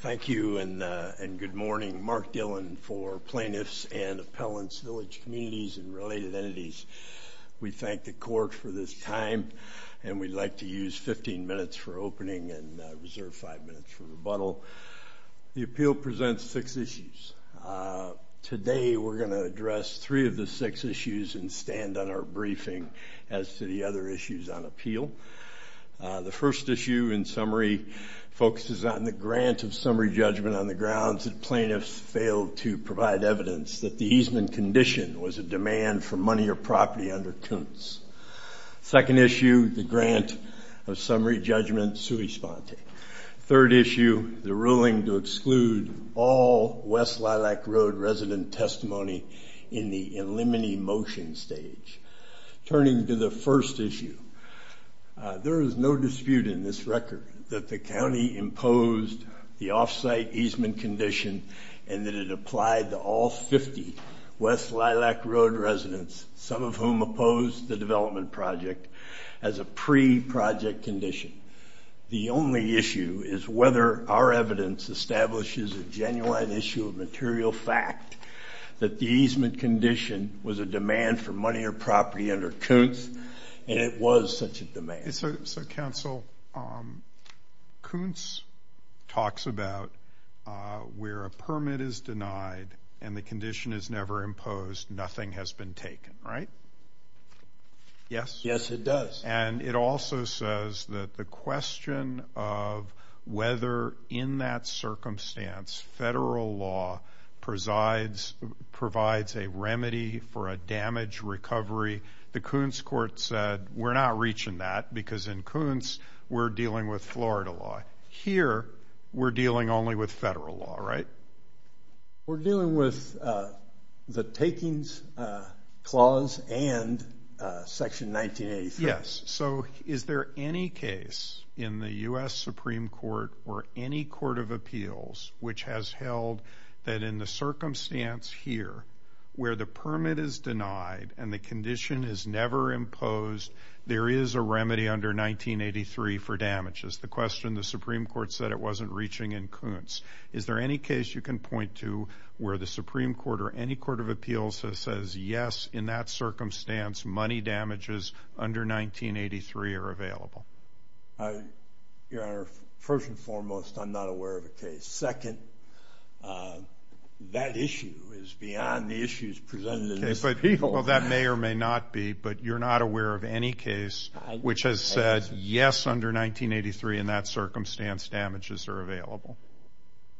Thank you and good morning. Mark Dillon for plaintiffs and appellants, village communities, and related entities. We thank the court for this time and we'd like to use 15 minutes for opening and reserve five minutes for rebuttal. The appeal presents six issues. Today we're going to address three of the six issues and stand on our briefing as to the other issues on appeal. The first issue in summary focuses on the grant of summary judgment on the grounds that plaintiffs failed to provide evidence that the easement condition was a demand for money or property under Koontz. Second issue, the grant of summary judgment, Sui Sponte. Third issue, the ruling to exclude all West Lilac Road resident testimony in the eliminate motion stage. Turning to the first issue, there is no dispute in this record that the county imposed the off-site easement condition and that it applied to all 50 West Lilac Road residents, some of whom opposed the development project, as a pre-project condition. The only issue is whether our evidence establishes a genuine issue of material fact that the easement condition was a demand for money or property under Koontz and it was such a demand. So, counsel, Koontz talks about where a permit is denied and the condition is whether in that circumstance federal law provides a remedy for a damaged recovery. The Koontz court said we're not reaching that because in Koontz we're dealing with Florida law. Here, we're dealing only with federal law, right? We're dealing with the takings clause and section 1983. Yes. So, is there any case in the U.S. Supreme Court or any court of appeals which has held that in the circumstance here, where the permit is denied and the condition is never imposed, there is a remedy under 1983 for damages? The question the Supreme Court said it wasn't reaching in Koontz. Is there any case you can point to where the Supreme Court or any court of 1983 are available? Your Honor, first and foremost, I'm not aware of a case. Second, that issue is beyond the issues presented in this appeal. Well, that may or may not be, but you're not aware of any case which has said yes, under 1983, in that circumstance, damages are available.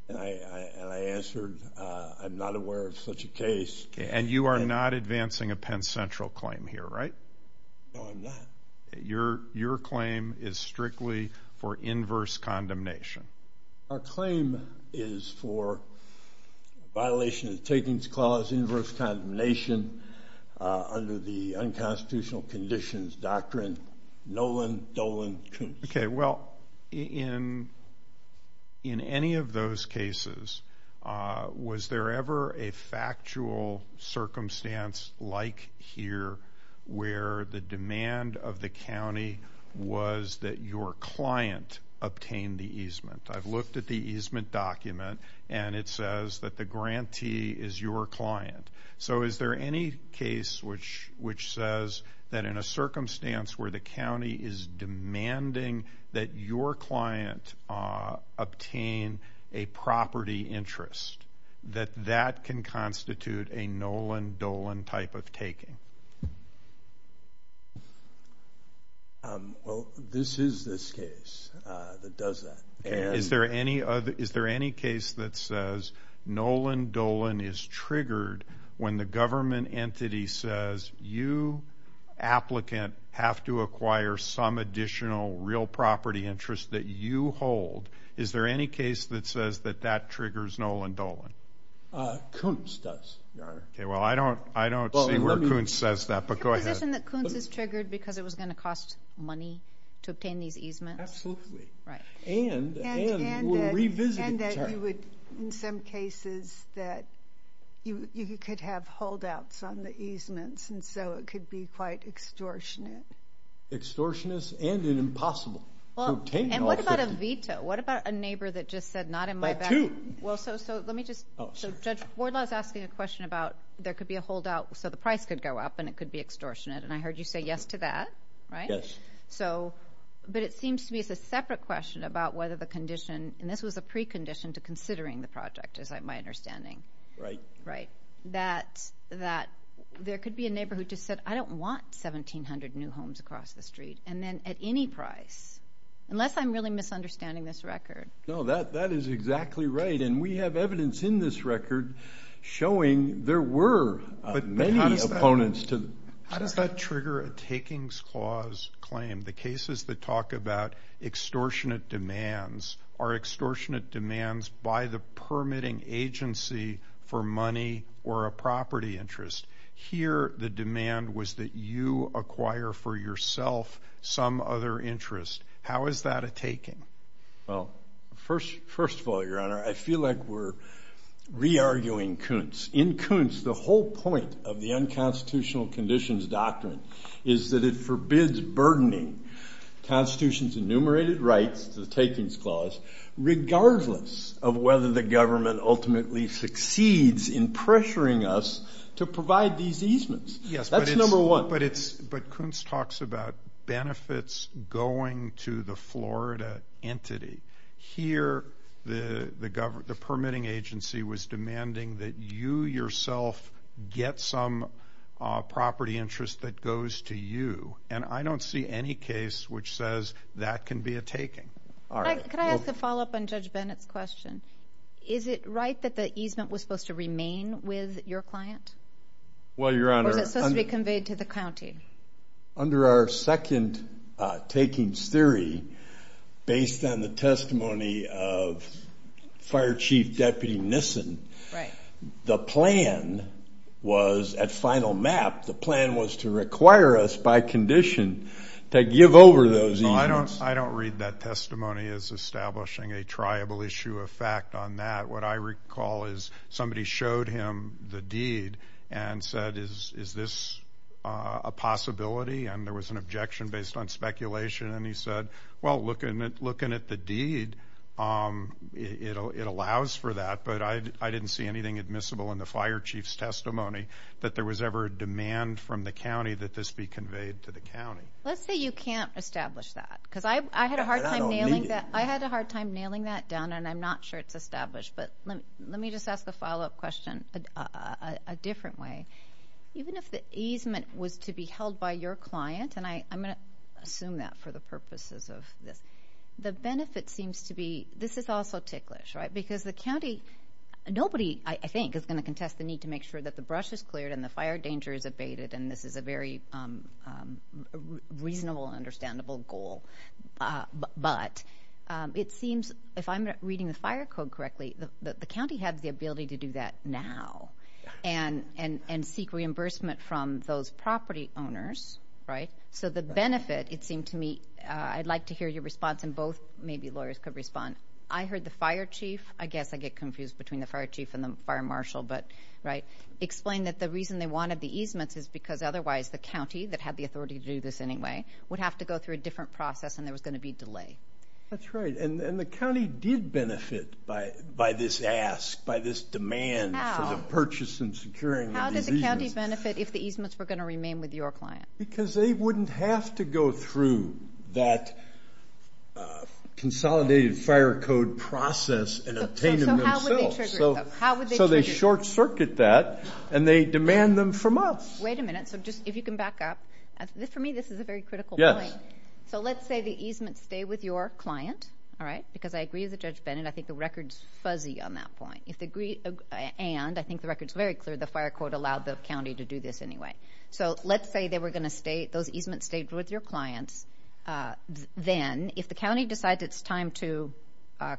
And I answered, I'm not aware of such a case. And you are not advancing a Penn Central claim here, right? No, I'm not. Your claim is strictly for inverse condemnation. Our claim is for violation of the takings clause, inverse condemnation, under the In any of those cases, was there ever a factual circumstance like here where the demand of the county was that your client obtain the easement? I've looked at the easement document and it says that the grantee is your client. So, is there any case which says that in a circumstance where the county is demanding that your client obtain a property interest, that that can constitute a Nolan-Dolan type of taking? Well, this is this case that does that. Is there any case that says Nolan-Dolan is triggered when the government entity says, you, applicant, have to acquire some additional real property interest that you hold. Is there any case that says that that triggers Nolan-Dolan? Koontz does, Your Honor. Okay, well, I don't see where Koontz says that, but go ahead. Is there a position that Koontz is triggered because it was going to cost money to obtain these easements? Absolutely. Right. And that you would, in some cases, that you could have holdouts on the easements, and so it could be quite extortionate. Extortionist and an impossible. And what about a veto? What about a neighbor that just said not in my backyard? Well, so let me just, Judge Wardlaw is asking a question about there could be a holdout so the price could go up and it could be extortionate, and I heard you say yes to that. Yes. So, but it seems to me it's a separate question about whether the condition, and this was a precondition to considering the project, is my understanding. Right. Right. That there could be a neighbor who just said, I don't want 1,700 new homes across the street, and then at any price, unless I'm really misunderstanding this record. No, that is exactly right, and we have evidence in this record showing there were many opponents to. How does that trigger a takings clause claim? The cases that talk about extortionate demands are extortionate demands by the permitting agency for money or a property interest. Here, the demand was that you acquire for yourself some other interest. How is that a taking? Well, first of all, Your Honor, I feel like we're re-arguing Kuntz. In Kuntz, the whole point of the unconstitutional conditions doctrine is that it forbids burdening the Constitution's enumerated rights to the takings clause regardless of whether the government ultimately succeeds in pressuring us to provide these easements. Yes, but Kuntz talks about benefits going to the Florida entity. Here, the permitting agency was demanding that you yourself get some property interest that goes to you, and I don't see any case which says that can be a taking. Could I ask a follow-up on Judge Bennett's question? Is it right that the easement was supposed to remain with your client? Or was it supposed to be conveyed to the county? Under our second takings theory, based on the testimony of Fire Chief Deputy Nissen, the plan was, at final map, the plan was to require us by condition to give over those easements. And there was an objection based on speculation, and he said, well, looking at the deed, it allows for that, but I didn't see anything admissible in the Fire Chief's testimony that there was ever a demand from the county that this be conveyed to the county. Let's say you can't establish that, because I had a hard time nailing that down, and I'm not sure it's established, but let me just ask the follow-up question a different way. Even if the easement was to be held by your client, and I'm going to assume that for the purposes of this, the benefit seems to be this is also ticklish, right? Nobody, I think, is going to contest the need to make sure that the brush is cleared and the fire danger is abated, and this is a very reasonable and understandable goal. But it seems, if I'm reading the fire code correctly, the county has the ability to do that now and seek reimbursement from those property owners, right? So the benefit, it seemed to me, I'd like to hear your response, and both maybe lawyers could respond. I heard the Fire Chief, I guess I get confused between the Fire Chief and the Fire Marshal, but right, explain that the reason they wanted the easements is because otherwise the county, that had the authority to do this anyway, would have to go through a different process and there was going to be delay. That's right, and the county did benefit by this ask, by this demand for the purchase and securing of the easements. How did the county benefit if the easements were going to remain with your client? Because they wouldn't have to go through that consolidated fire code process and obtain them themselves. So how would they trigger it? So they short circuit that and they demand them from us. Wait a minute, so just, if you can back up, for me this is a very critical point. Yes. So let's say the easements stay with your client, all right, because I agree with Judge Bennett, I think the record's fuzzy on that point, and I think the record's very clear, the fire code allowed the county to do this anyway. So let's say they were going to stay, those easements stayed with your clients, then if the county decides it's time to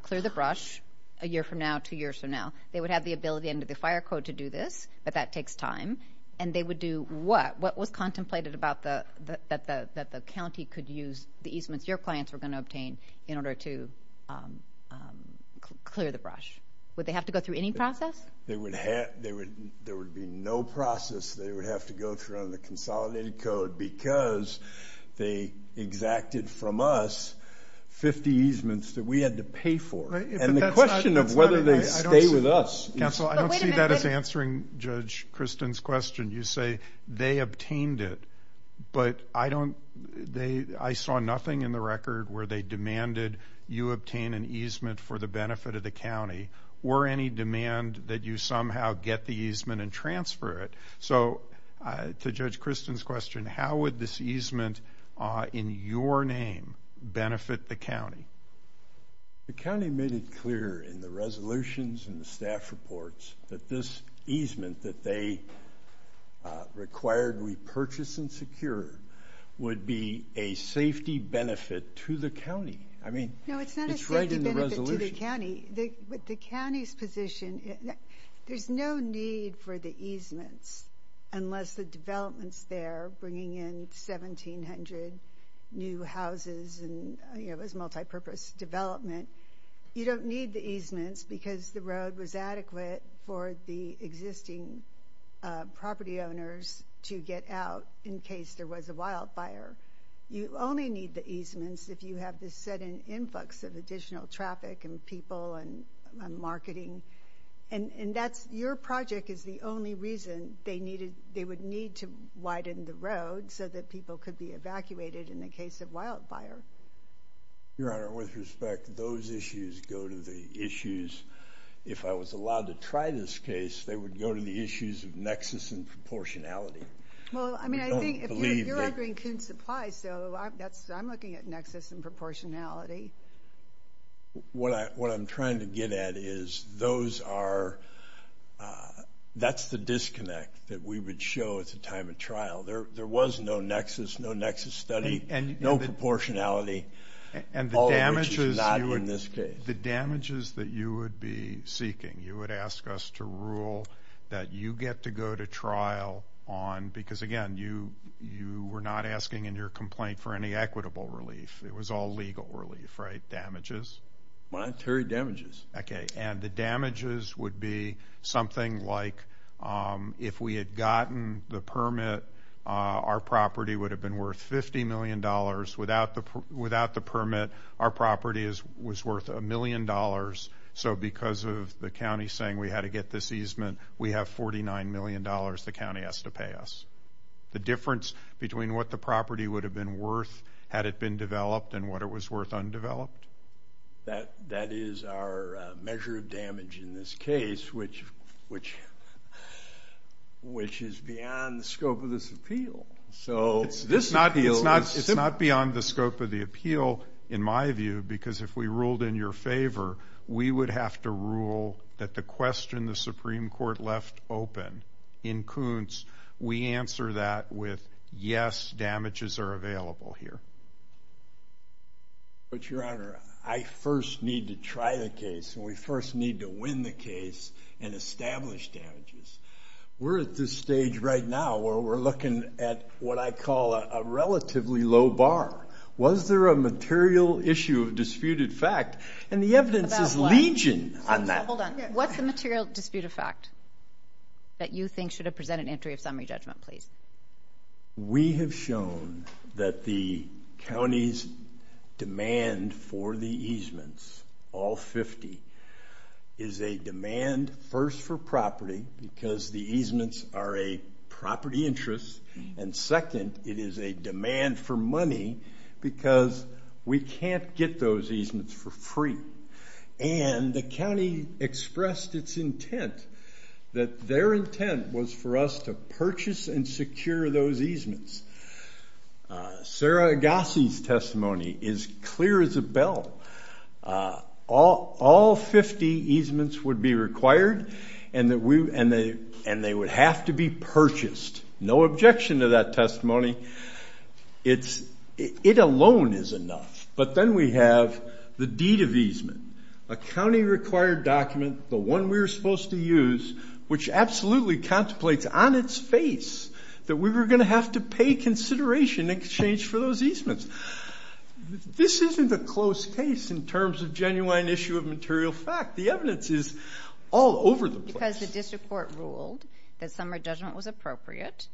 clear the brush a year from now, two years from now, they would have the ability under the fire code to do this, but that takes time, and they would do what? What was contemplated about the, that the county could use the easements your clients were going to obtain in order to clear the brush? Would they have to go through any process? There would be no process they would have to go through under the consolidated code because they exacted from us 50 easements that we had to pay for. And the question of whether they stay with us. Counsel, I don't see that as answering Judge Kristen's question. You say they obtained it, but I don't, they, I saw nothing in the record where they demanded you obtain an easement for the benefit of the county or any demand that you somehow get the easement and transfer it. So to Judge Kristen's question, how would this easement in your name benefit the county? The county made it clear in the resolutions and the staff reports that this easement that they required we purchase and secure would be a safety benefit to the county. I mean, it's right in the resolution. The county's position, there's no need for the easements unless the developments there bringing in 1700 new houses and it was multi-purpose development. You don't need the easements because the road was adequate for the existing property owners to get out in case there was a wildfire. You only need the easements if you have this set in influx of additional traffic and people and marketing. And that's, your project is the only reason they needed, they would need to widen the road so that people could be evacuated in the case of wildfire. Your Honor, with respect, those issues go to the issues, if I was allowed to try this case, they would go to the issues of nexus and proportionality. Well, I mean, I think if you're agreeing to supply, so I'm looking at nexus and proportionality. What I'm trying to get at is those are, that's the disconnect that we would show at the time of trial. There was no nexus, no nexus study, no proportionality, all of which is not in this case. The damages that you would be seeking, you would ask us to rule that you get to go to trial on, because again, you were not asking in your complaint for any equitable relief. It was all legal relief, right, damages? Monetary damages. Okay, and the damages would be something like if we had gotten the permit, our property would have been worth $50 million. Without the permit, our property was worth $1 million. So because of the county saying we had to get this easement, we have $49 million the county has to pay us. The difference between what the property would have been worth had it been developed and what it was worth undeveloped? That is our measure of damage in this case, which is beyond the scope of this appeal. It's not beyond the scope of the appeal, in my view, because if we ruled in your favor, we would have to rule that the question the Supreme Court left open in Kuntz, we answer that with, yes, damages are available here. But, Your Honor, I first need to try the case, and we first need to win the case and establish damages. We're at this stage right now where we're looking at what I call a relatively low bar. Was there a material issue of disputed fact? And the evidence is legion on that. Hold on. What's the material disputed fact that you think should have presented an entry of summary judgment, please? We have shown that the county's demand for the easements, all 50, is a demand first for property because the easements are a property interest, and second, it is a demand for money because we can't get those easements for free. And the county expressed its intent that their intent was for us to purchase and secure those easements. Sarah Agassi's testimony is clear as a bell. All 50 easements would be required, and they would have to be purchased. No objection to that testimony. It alone is enough. But then we have the deed of easement, a county-required document, the one we were supposed to use, which absolutely contemplates on its face that we were going to have to pay consideration in exchange for those easements. This isn't a close case in terms of genuine issue of material fact. The evidence is all over the place. Because the district court ruled that summary judgment was appropriate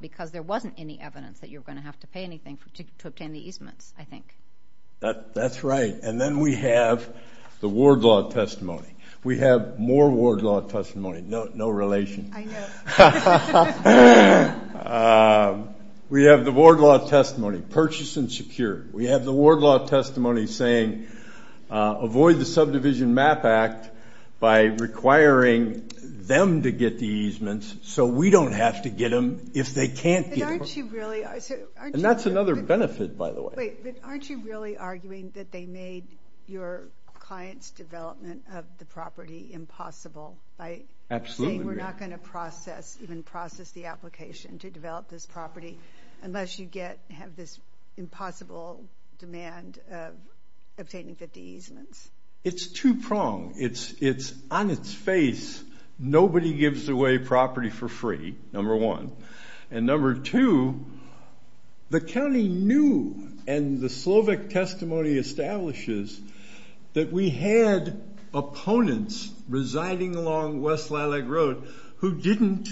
because there wasn't any evidence that you were going to have to pay anything to obtain the easements, I think. That's right. And then we have the ward law testimony. We have more ward law testimony. No relation. I know. We have the ward law testimony, purchase and secure. We have the ward law testimony saying avoid the subdivision MAP Act by requiring them to get the easements so we don't have to get them if they can't get them. And that's another benefit, by the way. Wait, but aren't you really arguing that they made your client's development of the property impossible by saying we're not going to process? Even process the application to develop this property unless you have this impossible demand of obtaining 50 easements? It's two-pronged. It's on its face. Nobody gives away property for free, number one. And number two, the county knew, and the Slovic testimony establishes, that we had opponents residing along West Lilac Road who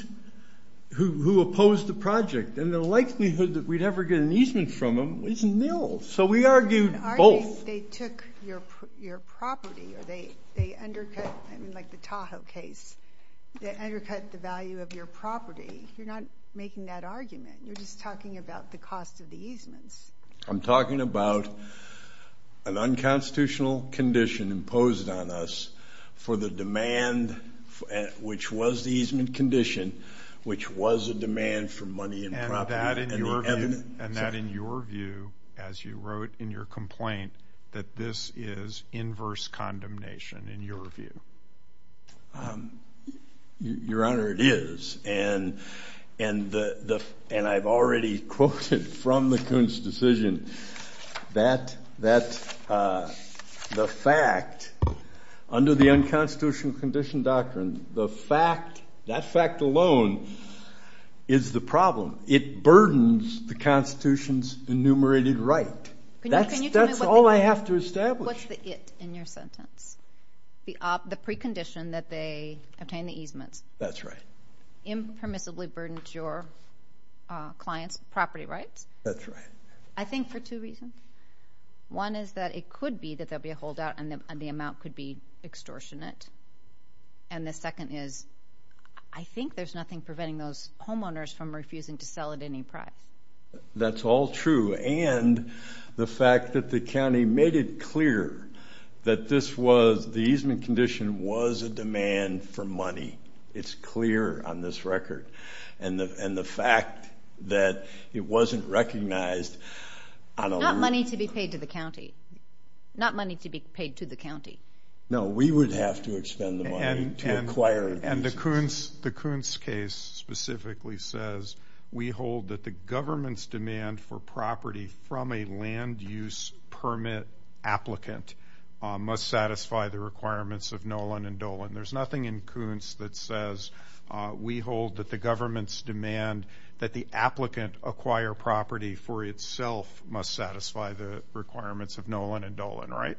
opposed the project. And the likelihood that we'd ever get an easement from them is nil. So we argued both. They took your property or they undercut, like the Tahoe case, they undercut the value of your property. You're not making that argument. You're just talking about the cost of the easements. I'm talking about an unconstitutional condition imposed on us for the demand, which was the easement condition, which was a demand for money and property. Is that in your view, as you wrote in your complaint, that this is inverse condemnation in your view? Your Honor, it is. And I've already quoted from the Kuhn's decision that the fact, under the unconstitutional condition doctrine, the fact, that fact alone is the problem. It burdens the Constitution's enumerated right. That's all I have to establish. What's the it in your sentence? The precondition that they obtained the easements. That's right. It impermissibly burdens your client's property rights. That's right. I think for two reasons. One is that it could be that there will be a holdout and the amount could be extortionate. And the second is I think there's nothing preventing those homeowners from refusing to sell at any price. That's all true. And the fact that the county made it clear that this was, the easement condition was a demand for money. It's clear on this record. And the fact that it wasn't recognized. Not money to be paid to the county. Not money to be paid to the county. No, we would have to expend the money to acquire the easements. And the Kuhn's case specifically says, we hold that the government's demand for property from a land use permit applicant must satisfy the requirements of Nolan and Dolan. There's nothing in Kuhn's that says, we hold that the government's demand that the applicant acquire property for itself must satisfy the requirements of Nolan and Dolan. Right?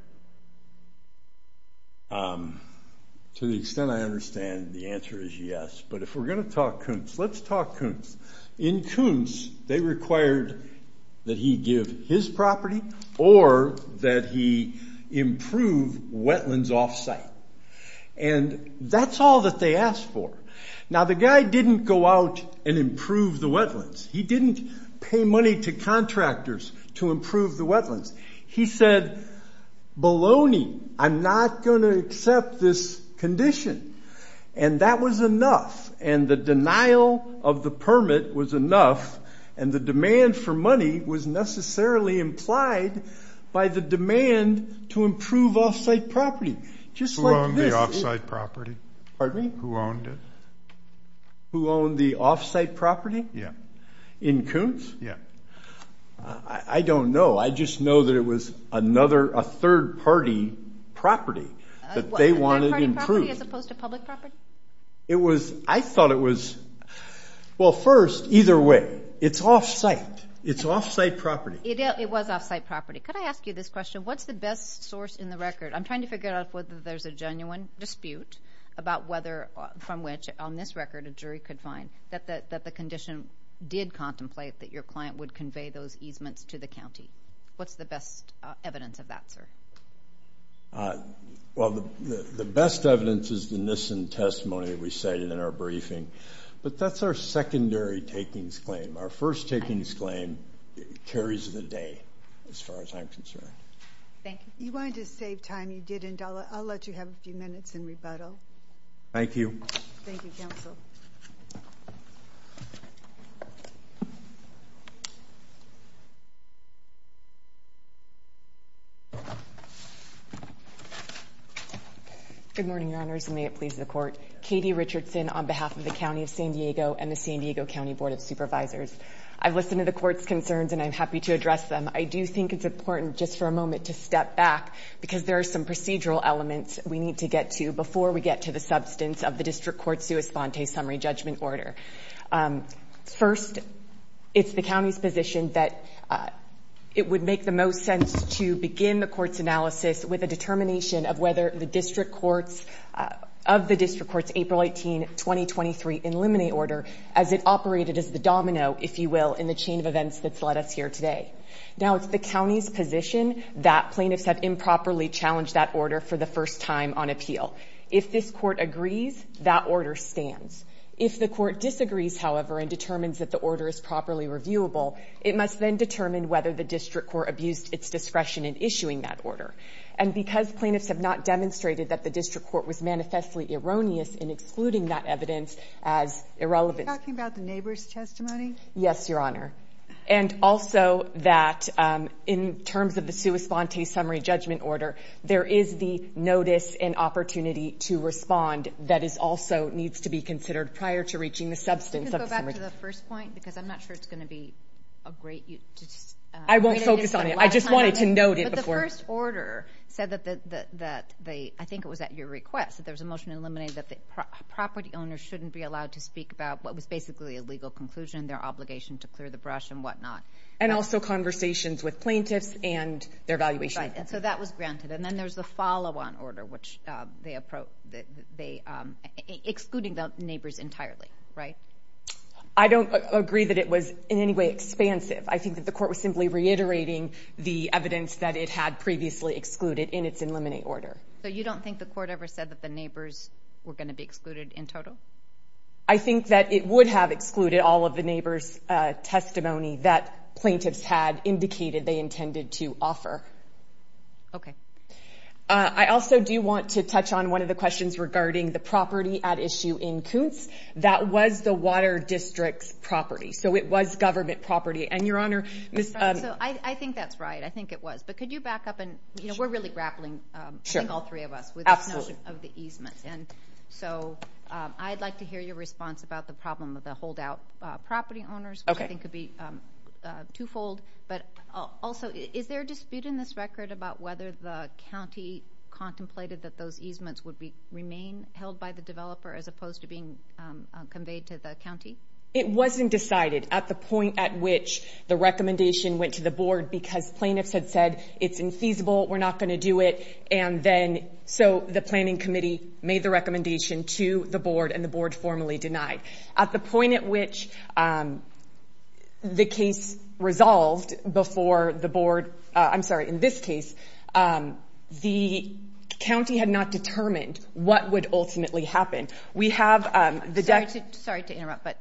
To the extent I understand, the answer is yes. But if we're going to talk Kuhn's, let's talk Kuhn's. In Kuhn's, they required that he give his property or that he improve wetlands off site. And that's all that they asked for. Now, the guy didn't go out and improve the wetlands. He didn't pay money to contractors to improve the wetlands. He said, baloney, I'm not going to accept this condition. And that was enough. And the denial of the permit was enough. And the demand for money was necessarily implied by the demand to improve off site property. Who owned the off site property? Pardon me? Who owned it? Who owned the off site property? Yeah. In Kuhn's? Yeah. I don't know. I just know that it was another, a third party property that they wanted improved. A third party property as opposed to public property? It was, I thought it was, well, first, either way, it's off site. It's off site property. It was off site property. Could I ask you this question? What's the best source in the record? I'm trying to figure out whether there's a genuine dispute about whether, from which, on this record, a jury could find that the condition did contemplate that your client would convey those easements to the county. What's the best evidence of that, sir? Well, the best evidence is the Nissen testimony that we cited in our briefing. But that's our secondary takings claim. Our first takings claim carries the day as far as I'm concerned. Thank you. You wanted to save time. You didn't. I'll let you have a few minutes in rebuttal. Thank you. Thank you, Counsel. Good morning, Your Honors, and may it please the Court. Katie Richardson on behalf of the County of San Diego and the San Diego County Board of Supervisors. I've listened to the Court's concerns, and I'm happy to address them. I do think it's important, just for a moment, to step back, because there are some procedural elements we need to get to before we get to the substance of the district court sui sponte summary judgment order. First, it's the county's position that it would make the most sense to begin the court's analysis with a determination of whether the district court's April 18, 2023, as it operated as the domino, if you will, in the chain of events that's led us here today. Now, it's the county's position that plaintiffs have improperly challenged that order for the first time on appeal. If this court agrees, that order stands. If the court disagrees, however, and determines that the order is properly reviewable, it must then determine whether the district court abused its discretion in issuing that order. And because plaintiffs have not demonstrated that the district court was manifestly erroneous in excluding that evidence as irrelevant. Are you talking about the neighbor's testimony? Yes, Your Honor. And also that in terms of the sui sponte summary judgment order, there is the notice and opportunity to respond that also needs to be considered prior to reaching the substance of the summary. Can you go back to the first point? Because I'm not sure it's going to be a great use. I won't focus on it. I just wanted to note it before. But the first order said that they, I think it was at your request, that there was a motion to eliminate that the property owner shouldn't be allowed to speak about what was basically a legal conclusion, their obligation to clear the brush and whatnot. And also conversations with plaintiffs and their evaluation. Right. And so that was granted. And then there's the follow-on order, which they, excluding the neighbors entirely, right? I don't agree that it was in any way expansive. I think that the court was simply reiterating the evidence that it had previously excluded in its eliminate order. So you don't think the court ever said that the neighbors were going to be excluded in total? I think that it would have excluded all of the neighbors' testimony that plaintiffs had indicated they intended to offer. Okay. I also do want to touch on one of the questions regarding the property at issue in Koontz. That was the water district's property. So it was government property. And, Your Honor, Ms. I think that's right. I think it was. But could you back up? We're really grappling, I think all three of us, with this notion of the easements. And so I'd like to hear your response about the problem of the holdout property owners, which I think could be twofold. But also, is there a dispute in this record about whether the county contemplated that those easements would remain held by the developer as opposed to being conveyed to the county? It wasn't decided at the point at which the recommendation went to the board because plaintiffs had said it's infeasible, we're not going to do it, and then so the planning committee made the recommendation to the board and the board formally denied. At the point at which the case resolved before the board, I'm sorry, in this case, the county had not determined what would ultimately happen. We have the deck. Sorry to interrupt, but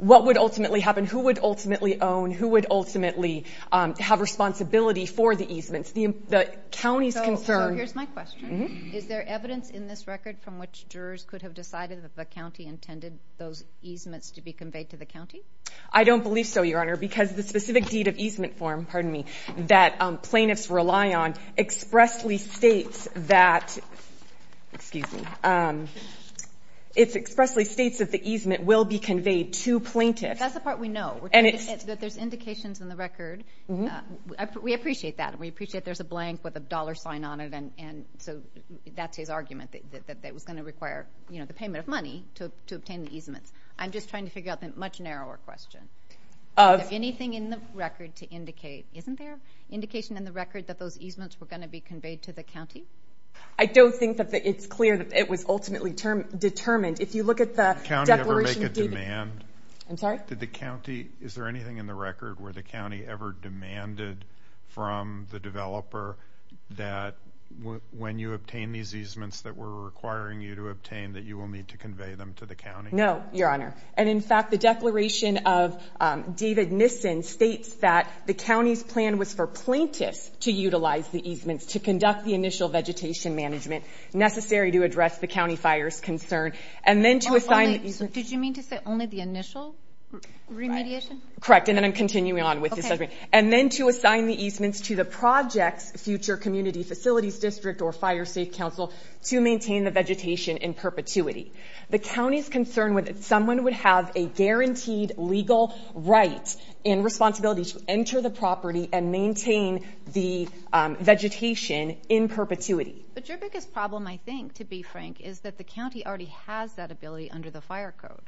what would ultimately happen? Who would ultimately own? Who would ultimately have responsibility for the easements? The county is concerned. So here's my question. Is there evidence in this record from which jurors could have decided that the county intended those easements to be conveyed to the county? I don't believe so, Your Honor, because the specific deed of easement form, pardon me, that plaintiffs rely on expressly states that the easement will be conveyed to plaintiffs. That's the part we know, that there's indications in the record. We appreciate that, and we appreciate there's a blank with a dollar sign on it, and so that's his argument, that it was going to require, you know, the payment of money to obtain the easements. I'm just trying to figure out the much narrower question. Is there anything in the record to indicate, isn't there, indication in the record that those easements were going to be conveyed to the county? I don't think that it's clear that it was ultimately determined. Did the county ever make a demand? I'm sorry? Did the county, is there anything in the record where the county ever demanded from the developer that when you obtain these easements that we're requiring you to obtain that you will need to convey them to the county? No, Your Honor. And, in fact, the declaration of David Nissen states that the county's plan was for plaintiffs to utilize the easements, to conduct the initial vegetation management necessary to address the county fire's concern, and then to assign the easements. Did you mean to say only the initial remediation? Correct, and then I'm continuing on with this argument. And then to assign the easements to the project's future community facilities district or fire safe council to maintain the vegetation in perpetuity. The county's concern was that someone would have a guaranteed legal right and responsibility to enter the property and maintain the vegetation in perpetuity. But your biggest problem, I think, to be frank, is that the county already has that ability under the fire code.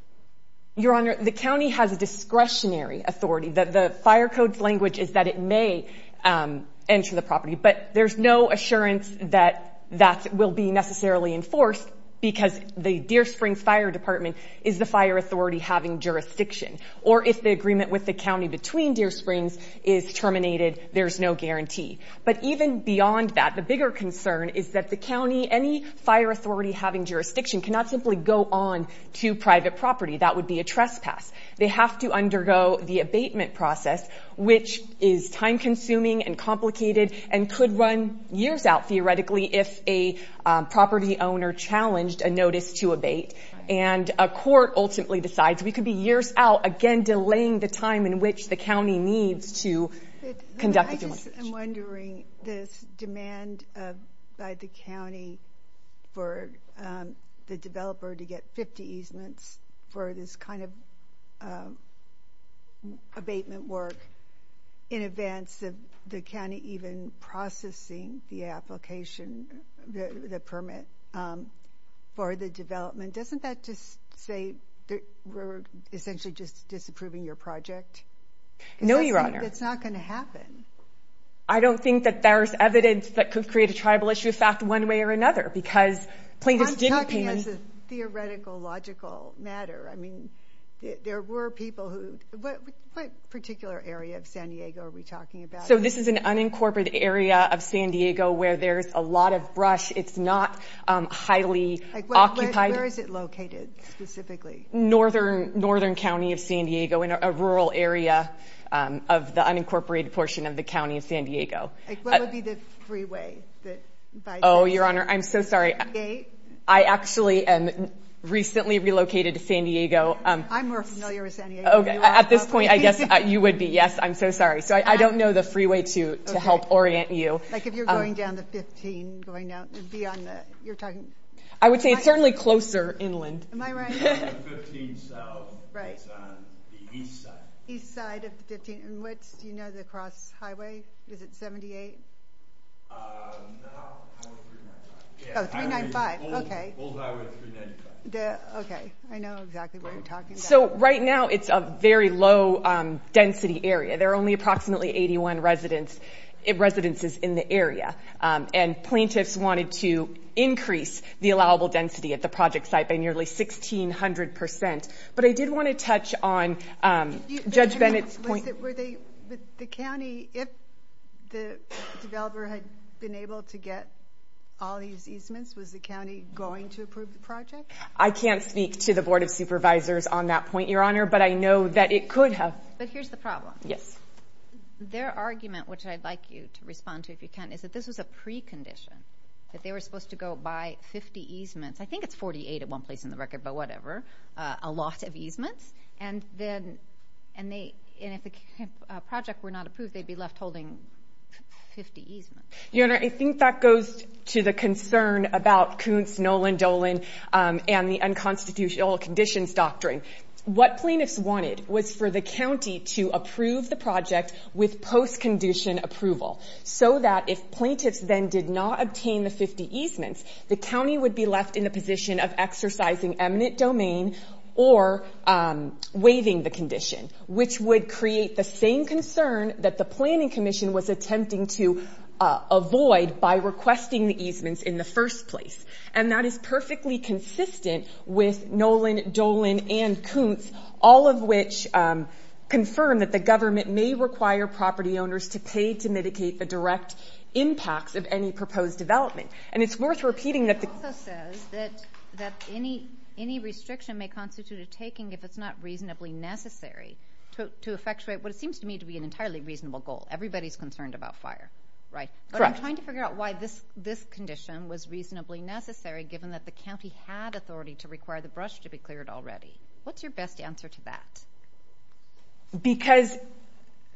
Your Honor, the county has a discretionary authority. The fire code's language is that it may enter the property, but there's no assurance that that will be necessarily enforced because the Deer Springs Fire Department is the fire authority having jurisdiction. Or if the agreement with the county between Deer Springs is terminated, there's no guarantee. But even beyond that, the bigger concern is that the county, any fire authority having jurisdiction, cannot simply go on to private property. That would be a trespass. They have to undergo the abatement process, which is time-consuming and complicated and could run years out, theoretically, if a property owner challenged a notice to abate. And a court ultimately decides we could be years out, again, delaying the time in which the county needs to conduct the abatement. I'm wondering this demand by the county for the developer to get 50 easements for this kind of abatement work in advance of the county even processing the application, the permit, for the development. Doesn't that just say that we're essentially just disapproving your project? No, Your Honor. It's not going to happen. I don't think that there's evidence that could create a tribal issue of fact one way or another because plaintiffs didn't pay money. I'm talking as a theoretical, logical matter. I mean, there were people who – what particular area of San Diego are we talking about? So this is an unincorporated area of San Diego where there's a lot of brush. It's not highly occupied. Where is it located specifically? Northern County of San Diego in a rural area of the unincorporated portion of the county of San Diego. What would be the freeway? Oh, Your Honor, I'm so sorry. I actually am recently relocated to San Diego. I'm more familiar with San Diego. At this point, I guess you would be. Yes, I'm so sorry. So I don't know the freeway to help orient you. Like if you're going down the 15 going down beyond the – you're talking – I would say it's certainly closer inland. Am I right? The 15 south. Right. It's on the east side. East side of the 15. And what's – do you know the cross highway? Is it 78? No. 395. Oh, 395. Okay. Old highway 395. Okay. I know exactly what you're talking about. So right now it's a very low density area. There are only approximately 81 residences in the area. And plaintiffs wanted to increase the allowable density at the project site by nearly 1,600 percent. But I did want to touch on Judge Bennett's point. The county, if the developer had been able to get all these easements, was the county going to approve the project? I can't speak to the Board of Supervisors on that point, Your Honor, but I know that it could have. But here's the problem. Yes. Their argument, which I'd like you to respond to if you can, is that this was a precondition, that they were supposed to go by 50 easements. I think it's 48 at one place in the record, but whatever. A lot of easements. And if the project were not approved, they'd be left holding 50 easements. Your Honor, I think that goes to the concern about Kuntz, Nolan, Dolan, and the unconstitutional conditions doctrine. What plaintiffs wanted was for the county to approve the project with post-condition approval, so that if plaintiffs then did not obtain the 50 easements, the county would be left in the position of exercising eminent domain or waiving the condition, which would create the same concern that the planning commission was attempting to avoid by requesting the easements in the first place. And that is perfectly consistent with Nolan, Dolan, and Kuntz, all of which confirm that the government may require property owners to pay to mitigate the direct impacts of any proposed development. And it's worth repeating that the... It also says that any restriction may constitute a taking if it's not reasonably necessary to effectuate what seems to me to be an entirely reasonable goal. Everybody's concerned about fire, right? Correct. But I'm trying to figure out why this condition was reasonably necessary given that the county had authority to require the brush to be cleared already. What's your best answer to that? Because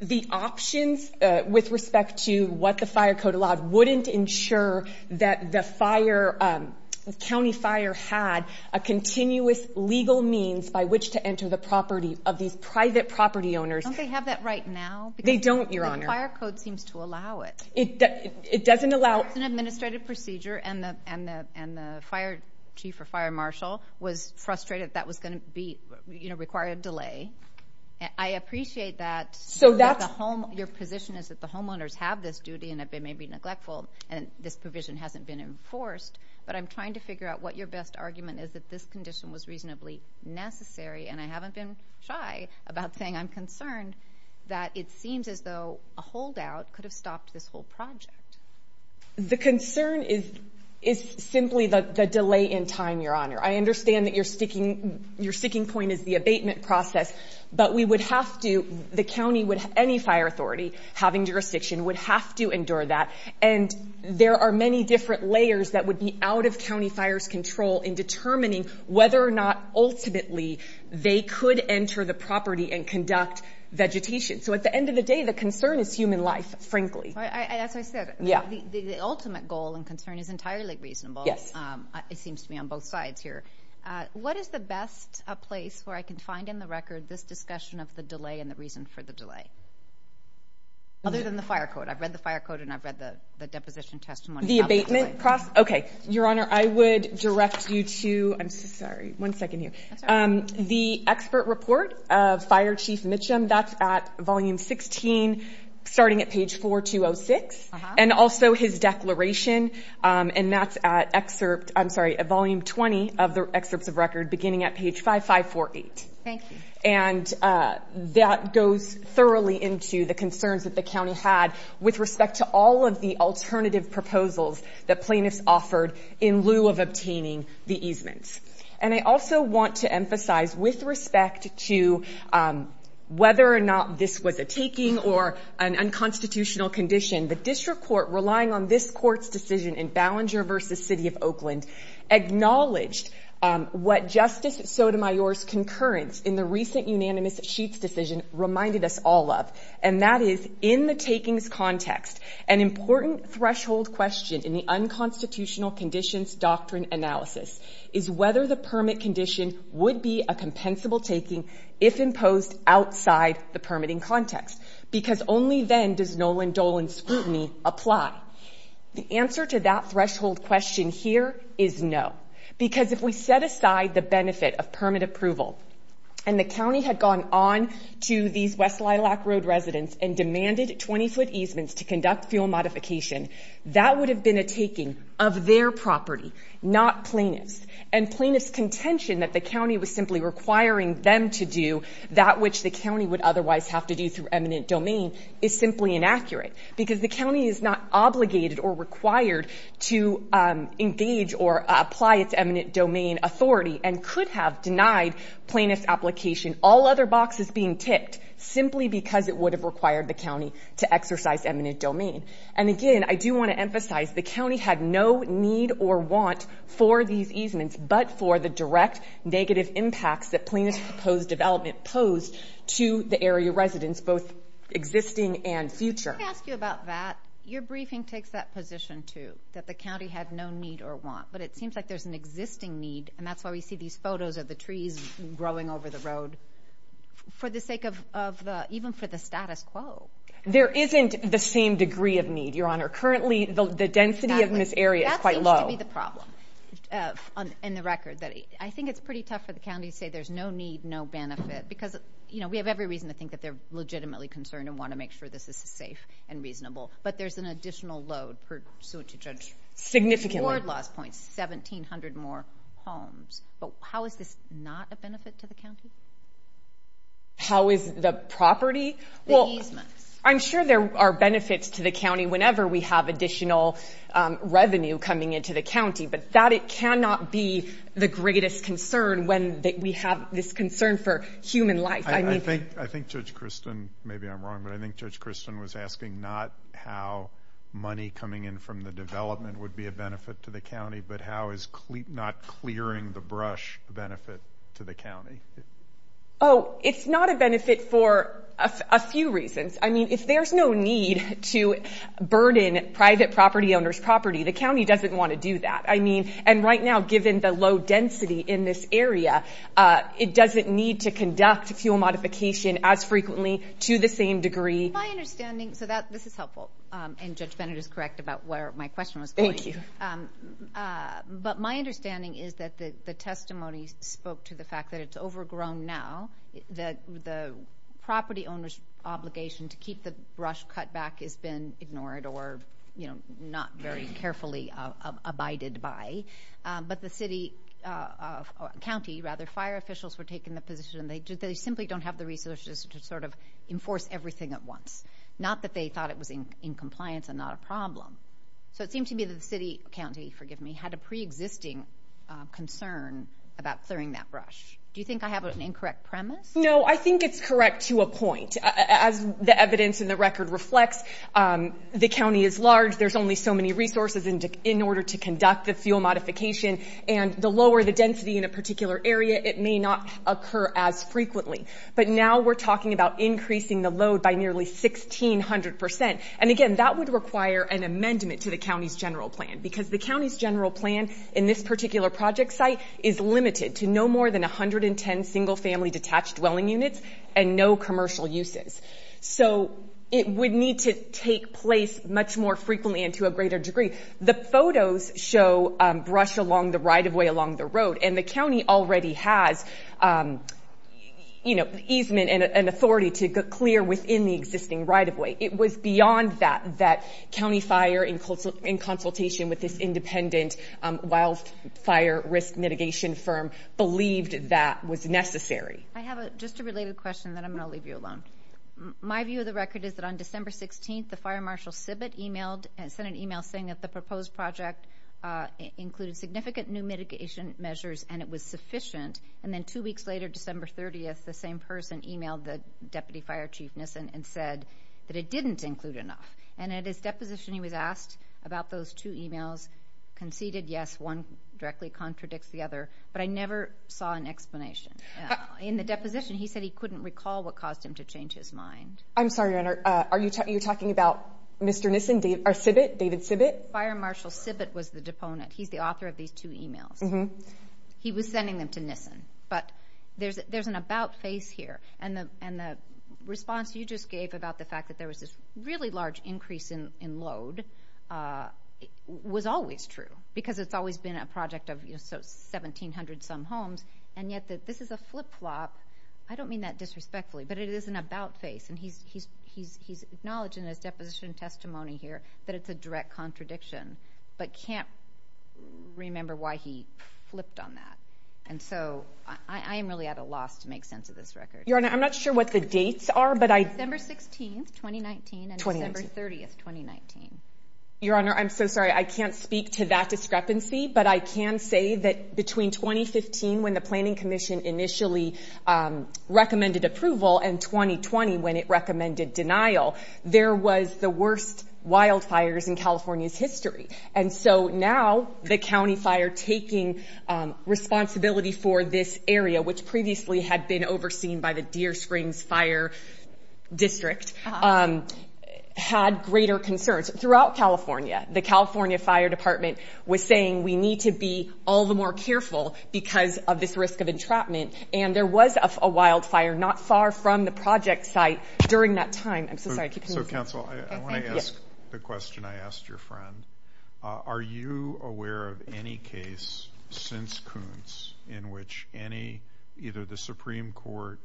the options with respect to what the fire code allowed wouldn't ensure that the county fire had a continuous legal means by which to enter the property of these private property owners. They don't, Your Honor. The fire code seems to allow it. It doesn't allow... It's an administrative procedure, and the chief or fire marshal was frustrated that was going to require a delay. I appreciate that your position is that the homeowners have this duty and that they may be neglectful, and this provision hasn't been enforced. But I'm trying to figure out what your best argument is that this condition was reasonably necessary, and I haven't been shy about saying I'm concerned that it seems as though a holdout could have stopped this whole project. The concern is simply the delay in time, Your Honor. I understand that your sticking point is the abatement process, but we would have to... The county would... Any fire authority having jurisdiction would have to endure that, and there are many different layers that would be out of county fire's control in determining whether or not ultimately they could enter the property and conduct vegetation. So at the end of the day, the concern is human life, frankly. As I said, the ultimate goal and concern is entirely reasonable. It seems to me on both sides here. What is the best place where I can find in the record this discussion of the delay and the reason for the delay? Other than the fire code. I've read the fire code, and I've read the deposition testimony. The abatement process? Okay. Your Honor, I would direct you to... I'm so sorry. One second here. The expert report of Fire Chief Mitchum, that's at volume 16, starting at page 4206, and also his declaration, and that's at volume 20 of the excerpts of record beginning at page 5548. Thank you. And that goes thoroughly into the concerns that the county had with respect to all of the alternative proposals that plaintiffs offered in lieu of obtaining the easements. And I also want to emphasize, with respect to whether or not this was a taking or an unconstitutional condition, the district court relying on this court's decision in Ballenger v. City of Oakland acknowledged what Justice Sotomayor's concurrence in the recent unanimous sheets decision reminded us all of, and that is, in the takings context, an important threshold question in the unconstitutional conditions doctrine analysis is whether the permit condition would be a compensable taking if imposed outside the permitting context, because only then does Nolan Dolan's scrutiny apply. The answer to that threshold question here is no, because if we set aside the benefit of permit approval and the county had gone on to these West Lilac Road residents and demanded 20-foot easements to conduct fuel modification, that would have been a taking of their property, not plaintiff's. And plaintiff's contention that the county was simply requiring them to do that which the county would otherwise have to do through eminent domain is simply inaccurate, because the county is not obligated or required to engage or apply its eminent domain authority and could have denied plaintiff's application all other boxes being tipped simply because it would have required the county to exercise eminent domain. And again, I do want to emphasize, the county had no need or want for these easements, but for the direct negative impacts that plaintiff's proposed development posed to the area residents, both existing and future. Let me ask you about that. Your briefing takes that position, too, that the county had no need or want, but it seems like there's an existing need, and that's why we see these photos of the trees growing over the road, for the sake of the... even for the status quo. There isn't the same degree of need, Your Honor. Currently, the density of this area is quite low. That seems to be the problem. On the record, I think it's pretty tough for the county to say there's no need, no benefit, because we have every reason to think that they're legitimately concerned and want to make sure this is safe and reasonable, but there's an additional load per suit to judge. Significantly. Ward loss points, 1,700 more homes. But how is this not a benefit to the county? How is the property? The easements. I'm sure there are benefits to the county whenever we have additional revenue coming into the county, but that cannot be the greatest concern when we have this concern for human life. I think Judge Kristen, maybe I'm wrong, but I think Judge Kristen was asking not how money coming in from the development would be a benefit to the county, but how is not clearing the brush a benefit to the county? Oh, it's not a benefit for a few reasons. I mean, if there's no need to burden private property owners' property, the county doesn't want to do that. I mean, and right now, given the low density in this area, it doesn't need to conduct fuel modification as frequently to the same degree. My understanding, so this is helpful, and Judge Bennett is correct about where my question was going. Thank you. But my understanding is that the testimony spoke to the fact that it's overgrown now, that the property owner's obligation to keep the brush cut back has been ignored or, you know, not very carefully abided by, but the city or county, rather, fire officials were taking the position that they simply don't have the resources to sort of enforce everything at once, not that they thought it was in compliance and not a problem. So it seemed to me that the city, county, forgive me, had a preexisting concern about clearing that brush. Do you think I have an incorrect premise? No, I think it's correct to a point. As the evidence in the record reflects, the county is large. There's only so many resources in order to conduct the fuel modification, and the lower the density in a particular area, it may not occur as frequently. But now we're talking about increasing the load by nearly 1,600%. And again, that would require an amendment to the county's general plan because the county's general plan in this particular project site is limited to no more than 110 single-family detached dwelling units and no commercial uses. So it would need to take place much more frequently and to a greater degree. The photos show brush along the right-of-way along the road, and the county already has, you know, easement and authority to clear within the existing right-of-way. It was beyond that, and the county fire in consultation with this independent wildfire risk mitigation firm believed that was necessary. I have just a related question, and then I'm going to leave you alone. My view of the record is that on December 16th, the fire marshal SIBIT sent an email saying that the proposed project included significant new mitigation measures and it was sufficient, and then two weeks later, December 30th, the same person emailed the deputy fire chief and said that it didn't include enough. And at his deposition, he was asked about those two emails, conceded, yes, one directly contradicts the other, but I never saw an explanation. In the deposition, he said he couldn't recall what caused him to change his mind. I'm sorry. Are you talking about Mr. Nissen, or SIBIT, David SIBIT? Fire Marshal SIBIT was the deponent. He's the author of these two emails. He was sending them to Nissen, but there's an about face here, and the response you just gave about the fact that there was this really large increase in load was always true because it's always been a project of 1,700-some homes, and yet this is a flip-flop. I don't mean that disrespectfully, but it is an about face, and he's acknowledged in his deposition testimony here that it's a direct contradiction but can't remember why he flipped on that. And so I am really at a loss to make sense of this record. Your Honor, I'm not sure what the dates are, but I... December 16, 2019 and December 30, 2019. Your Honor, I'm so sorry. I can't speak to that discrepancy, but I can say that between 2015 when the Planning Commission initially recommended approval and 2020 when it recommended denial, there was the worst wildfires in California's history. And so now the county fire taking responsibility for this area, which previously had been overseen by the Deer Springs Fire District, had greater concerns. Throughout California, the California Fire Department was saying we need to be all the more careful because of this risk of entrapment, and there was a wildfire not far from the project site during that time. I'm so sorry. Keep going. So, counsel, I want to ask the question I asked your friend. Are you aware of any case since Coons in which either the Supreme Court,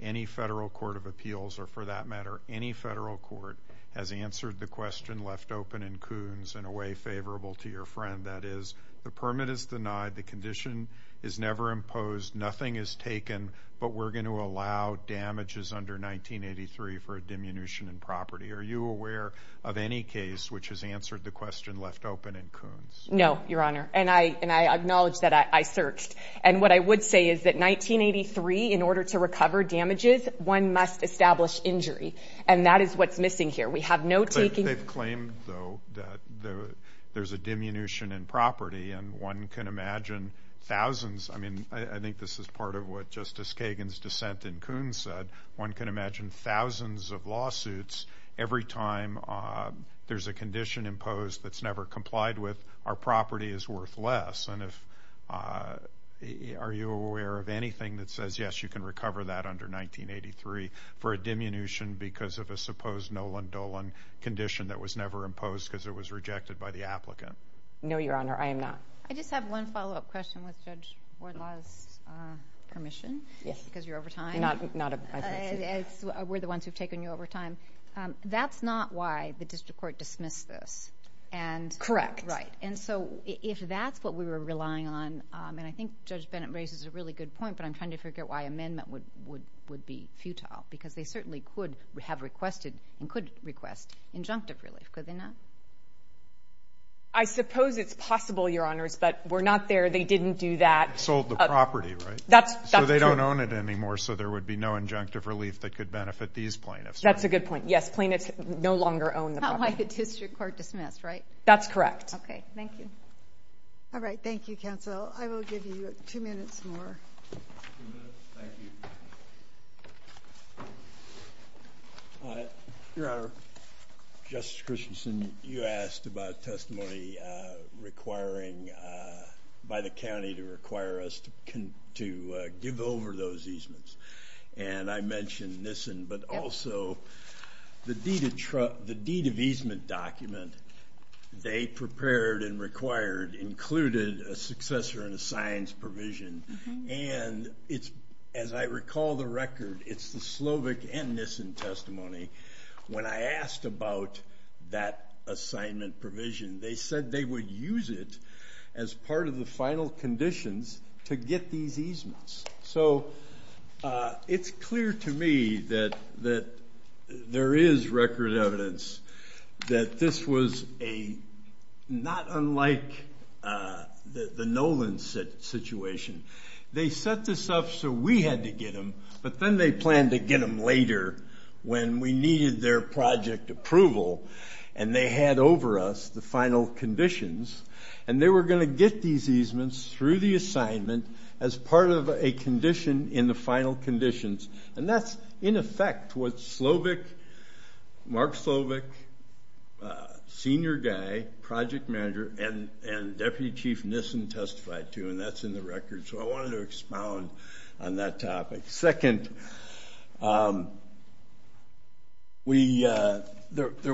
any federal court of appeals, or for that matter any federal court, has answered the question left open in Coons in a way favorable to your friend? That is, the permit is denied, the condition is never imposed, nothing is taken, but we're going to allow damages under 1983 for a diminution in property. Are you aware of any case which has answered the question left open in Coons? No, Your Honor, and I acknowledge that I searched. And what I would say is that 1983, in order to recover damages, one must establish injury, and that is what's missing here. We have no taking. But they've claimed, though, that there's a diminution in property, and one can imagine thousands. I mean, I think this is part of what Justice Kagan's dissent in Coons said. One can imagine thousands of lawsuits. Every time there's a condition imposed that's never complied with, our property is worth less. And are you aware of anything that says, yes, you can recover that under 1983 for a diminution because of a supposed Nolan Dolan condition that was never imposed because it was rejected by the applicant? No, Your Honor, I am not. I just have one follow-up question with Judge Wardlaw's permission, because you're over time. We're the ones who've taken you over time. That's not why the district court dismissed this. Correct. Right. And so if that's what we were relying on, and I think Judge Bennett raises a really good point, but I'm trying to figure out why amendment would be futile, because they certainly could have requested and could request injunctive relief, could they not? I suppose it's possible, Your Honors, but we're not there. They didn't do that. Sold the property, right? So they don't own it anymore, so there would be no injunctive relief that could benefit these plaintiffs. That's a good point. Yes, plaintiffs no longer own the property. That's not why the district court dismissed, right? That's correct. Okay. Thank you. All right. Thank you, counsel. I will give you two minutes more. Two minutes? Thank you. Your Honor, Justice Christensen, you asked about testimony requiring by the county to require us to give over those easements, and I mentioned NISN, but also the deed of easement document they prepared and required included a successor and a science provision, and as I recall the record, it's the Slovic and NISN testimony. When I asked about that assignment provision, they said they would use it as part of the final conditions to get these easements. So it's clear to me that there is record evidence that this was not unlike the Nolan situation. They set this up so we had to get them, but then they planned to get them later when we needed their project approval, and they had over us the final conditions, and they were going to get these easements through the assignment as part of a condition in the final conditions, and that's in effect what Mark Slovic, senior guy, project manager, and Deputy Chief NISN testified to, and that's in the record, so I wanted to expound on that topic. Second, there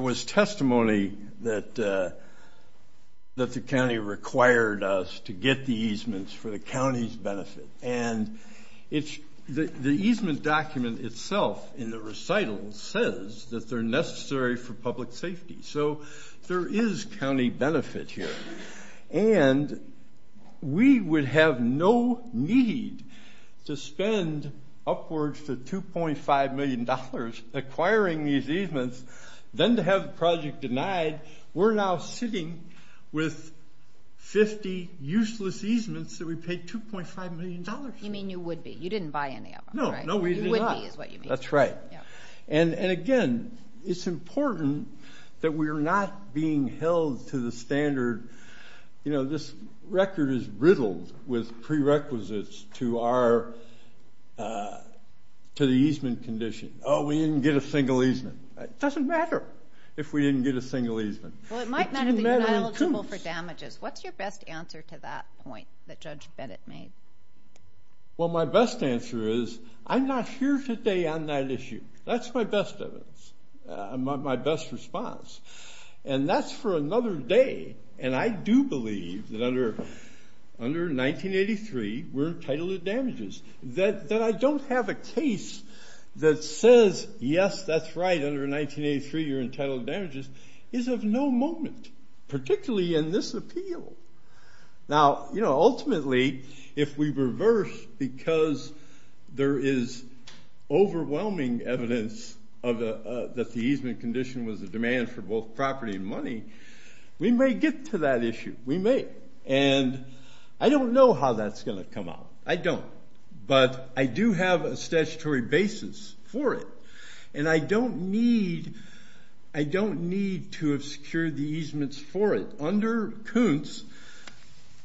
was testimony that the county required us to get the easements for the county's benefit, and the easement document itself in the recital says that they're necessary for public safety, so there is county benefit here, and we would have no need to spend upwards of $2.5 million acquiring these easements than to have the project denied. We're now sitting with 50 useless easements that we paid $2.5 million for. You mean you would be. You didn't buy any of them, right? No, we did not. You would be is what you mean. That's right. And, again, it's important that we're not being held to the standard, you know, this record is riddled with prerequisites to the easement condition. Oh, we didn't get a single easement. It doesn't matter if we didn't get a single easement. Well, it might matter that you're not eligible for damages. What's your best answer to that point that Judge Bennett made? Well, my best answer is I'm not here today on that issue. That's my best evidence, my best response, and that's for another day, and I do believe that under 1983 we're entitled to damages. That I don't have a case that says, yes, that's right, under 1983 you're entitled to damages is of no moment, particularly in this appeal. Now, you know, ultimately if we reverse because there is overwhelming evidence that the easement condition was a demand for both property and money, we may get to that issue. We may. And I don't know how that's going to come out. I don't. But I do have a statutory basis for it, and I don't need to have secured the easements for it. Under Kuntz,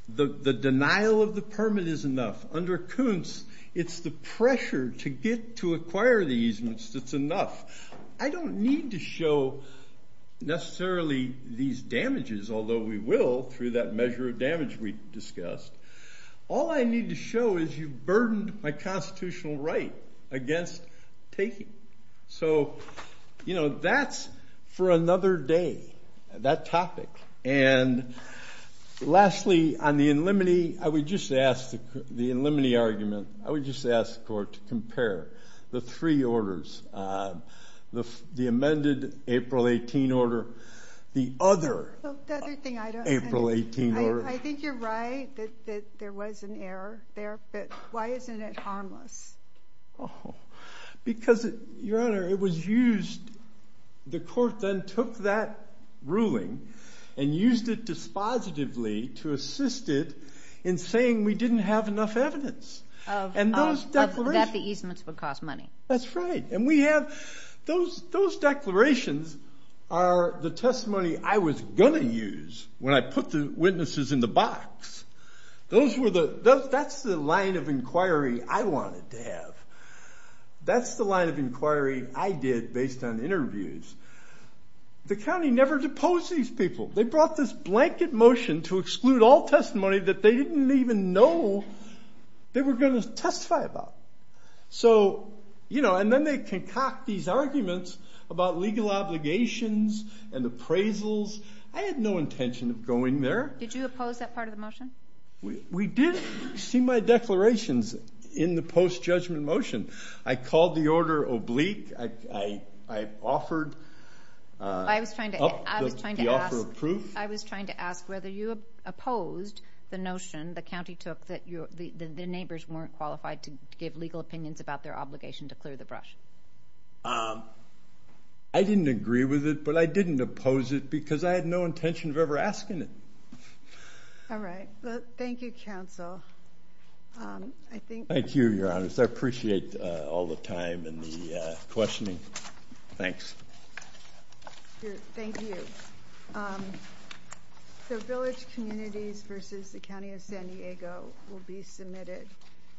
the denial of the permit is enough. Under Kuntz, it's the pressure to get to acquire the easements that's enough. I don't need to show necessarily these damages, although we will through that measure of damage we discussed. All I need to show is you burdened my constitutional right against taking. So, you know, that's for another day, that topic. And lastly, on the in limine, I would just ask the court to compare the three orders, the amended April 18 order, the other April 18 order. I think you're right that there was an error there, but why isn't it harmless? Because, Your Honor, it was used. The court then took that ruling and used it dispositively to assist it in saying we didn't have enough evidence. That the easements would cost money. That's right. And we have those declarations are the testimony I was going to use when I put the witnesses in the box. That's the line of inquiry I wanted to have. That's the line of inquiry I did based on interviews. The county never deposed these people. They brought this blanket motion to exclude all testimony that they didn't even know they were going to testify about. So, you know, and then they concoct these arguments about legal obligations and appraisals. I had no intention of going there. Did you oppose that part of the motion? We did see my declarations in the post-judgment motion. I called the order oblique. I offered up the offer of proof. I was trying to ask whether you opposed the notion the county took that the neighbors weren't qualified to give legal opinions about their obligation to clear the brush. I didn't agree with it, but I didn't oppose it because I had no intention of ever asking it. All right. Well, thank you, counsel. Thank you, Your Honors. I appreciate all the time and the questioning. Thanks. Thank you. So village communities versus the county of San Diego will be submitted.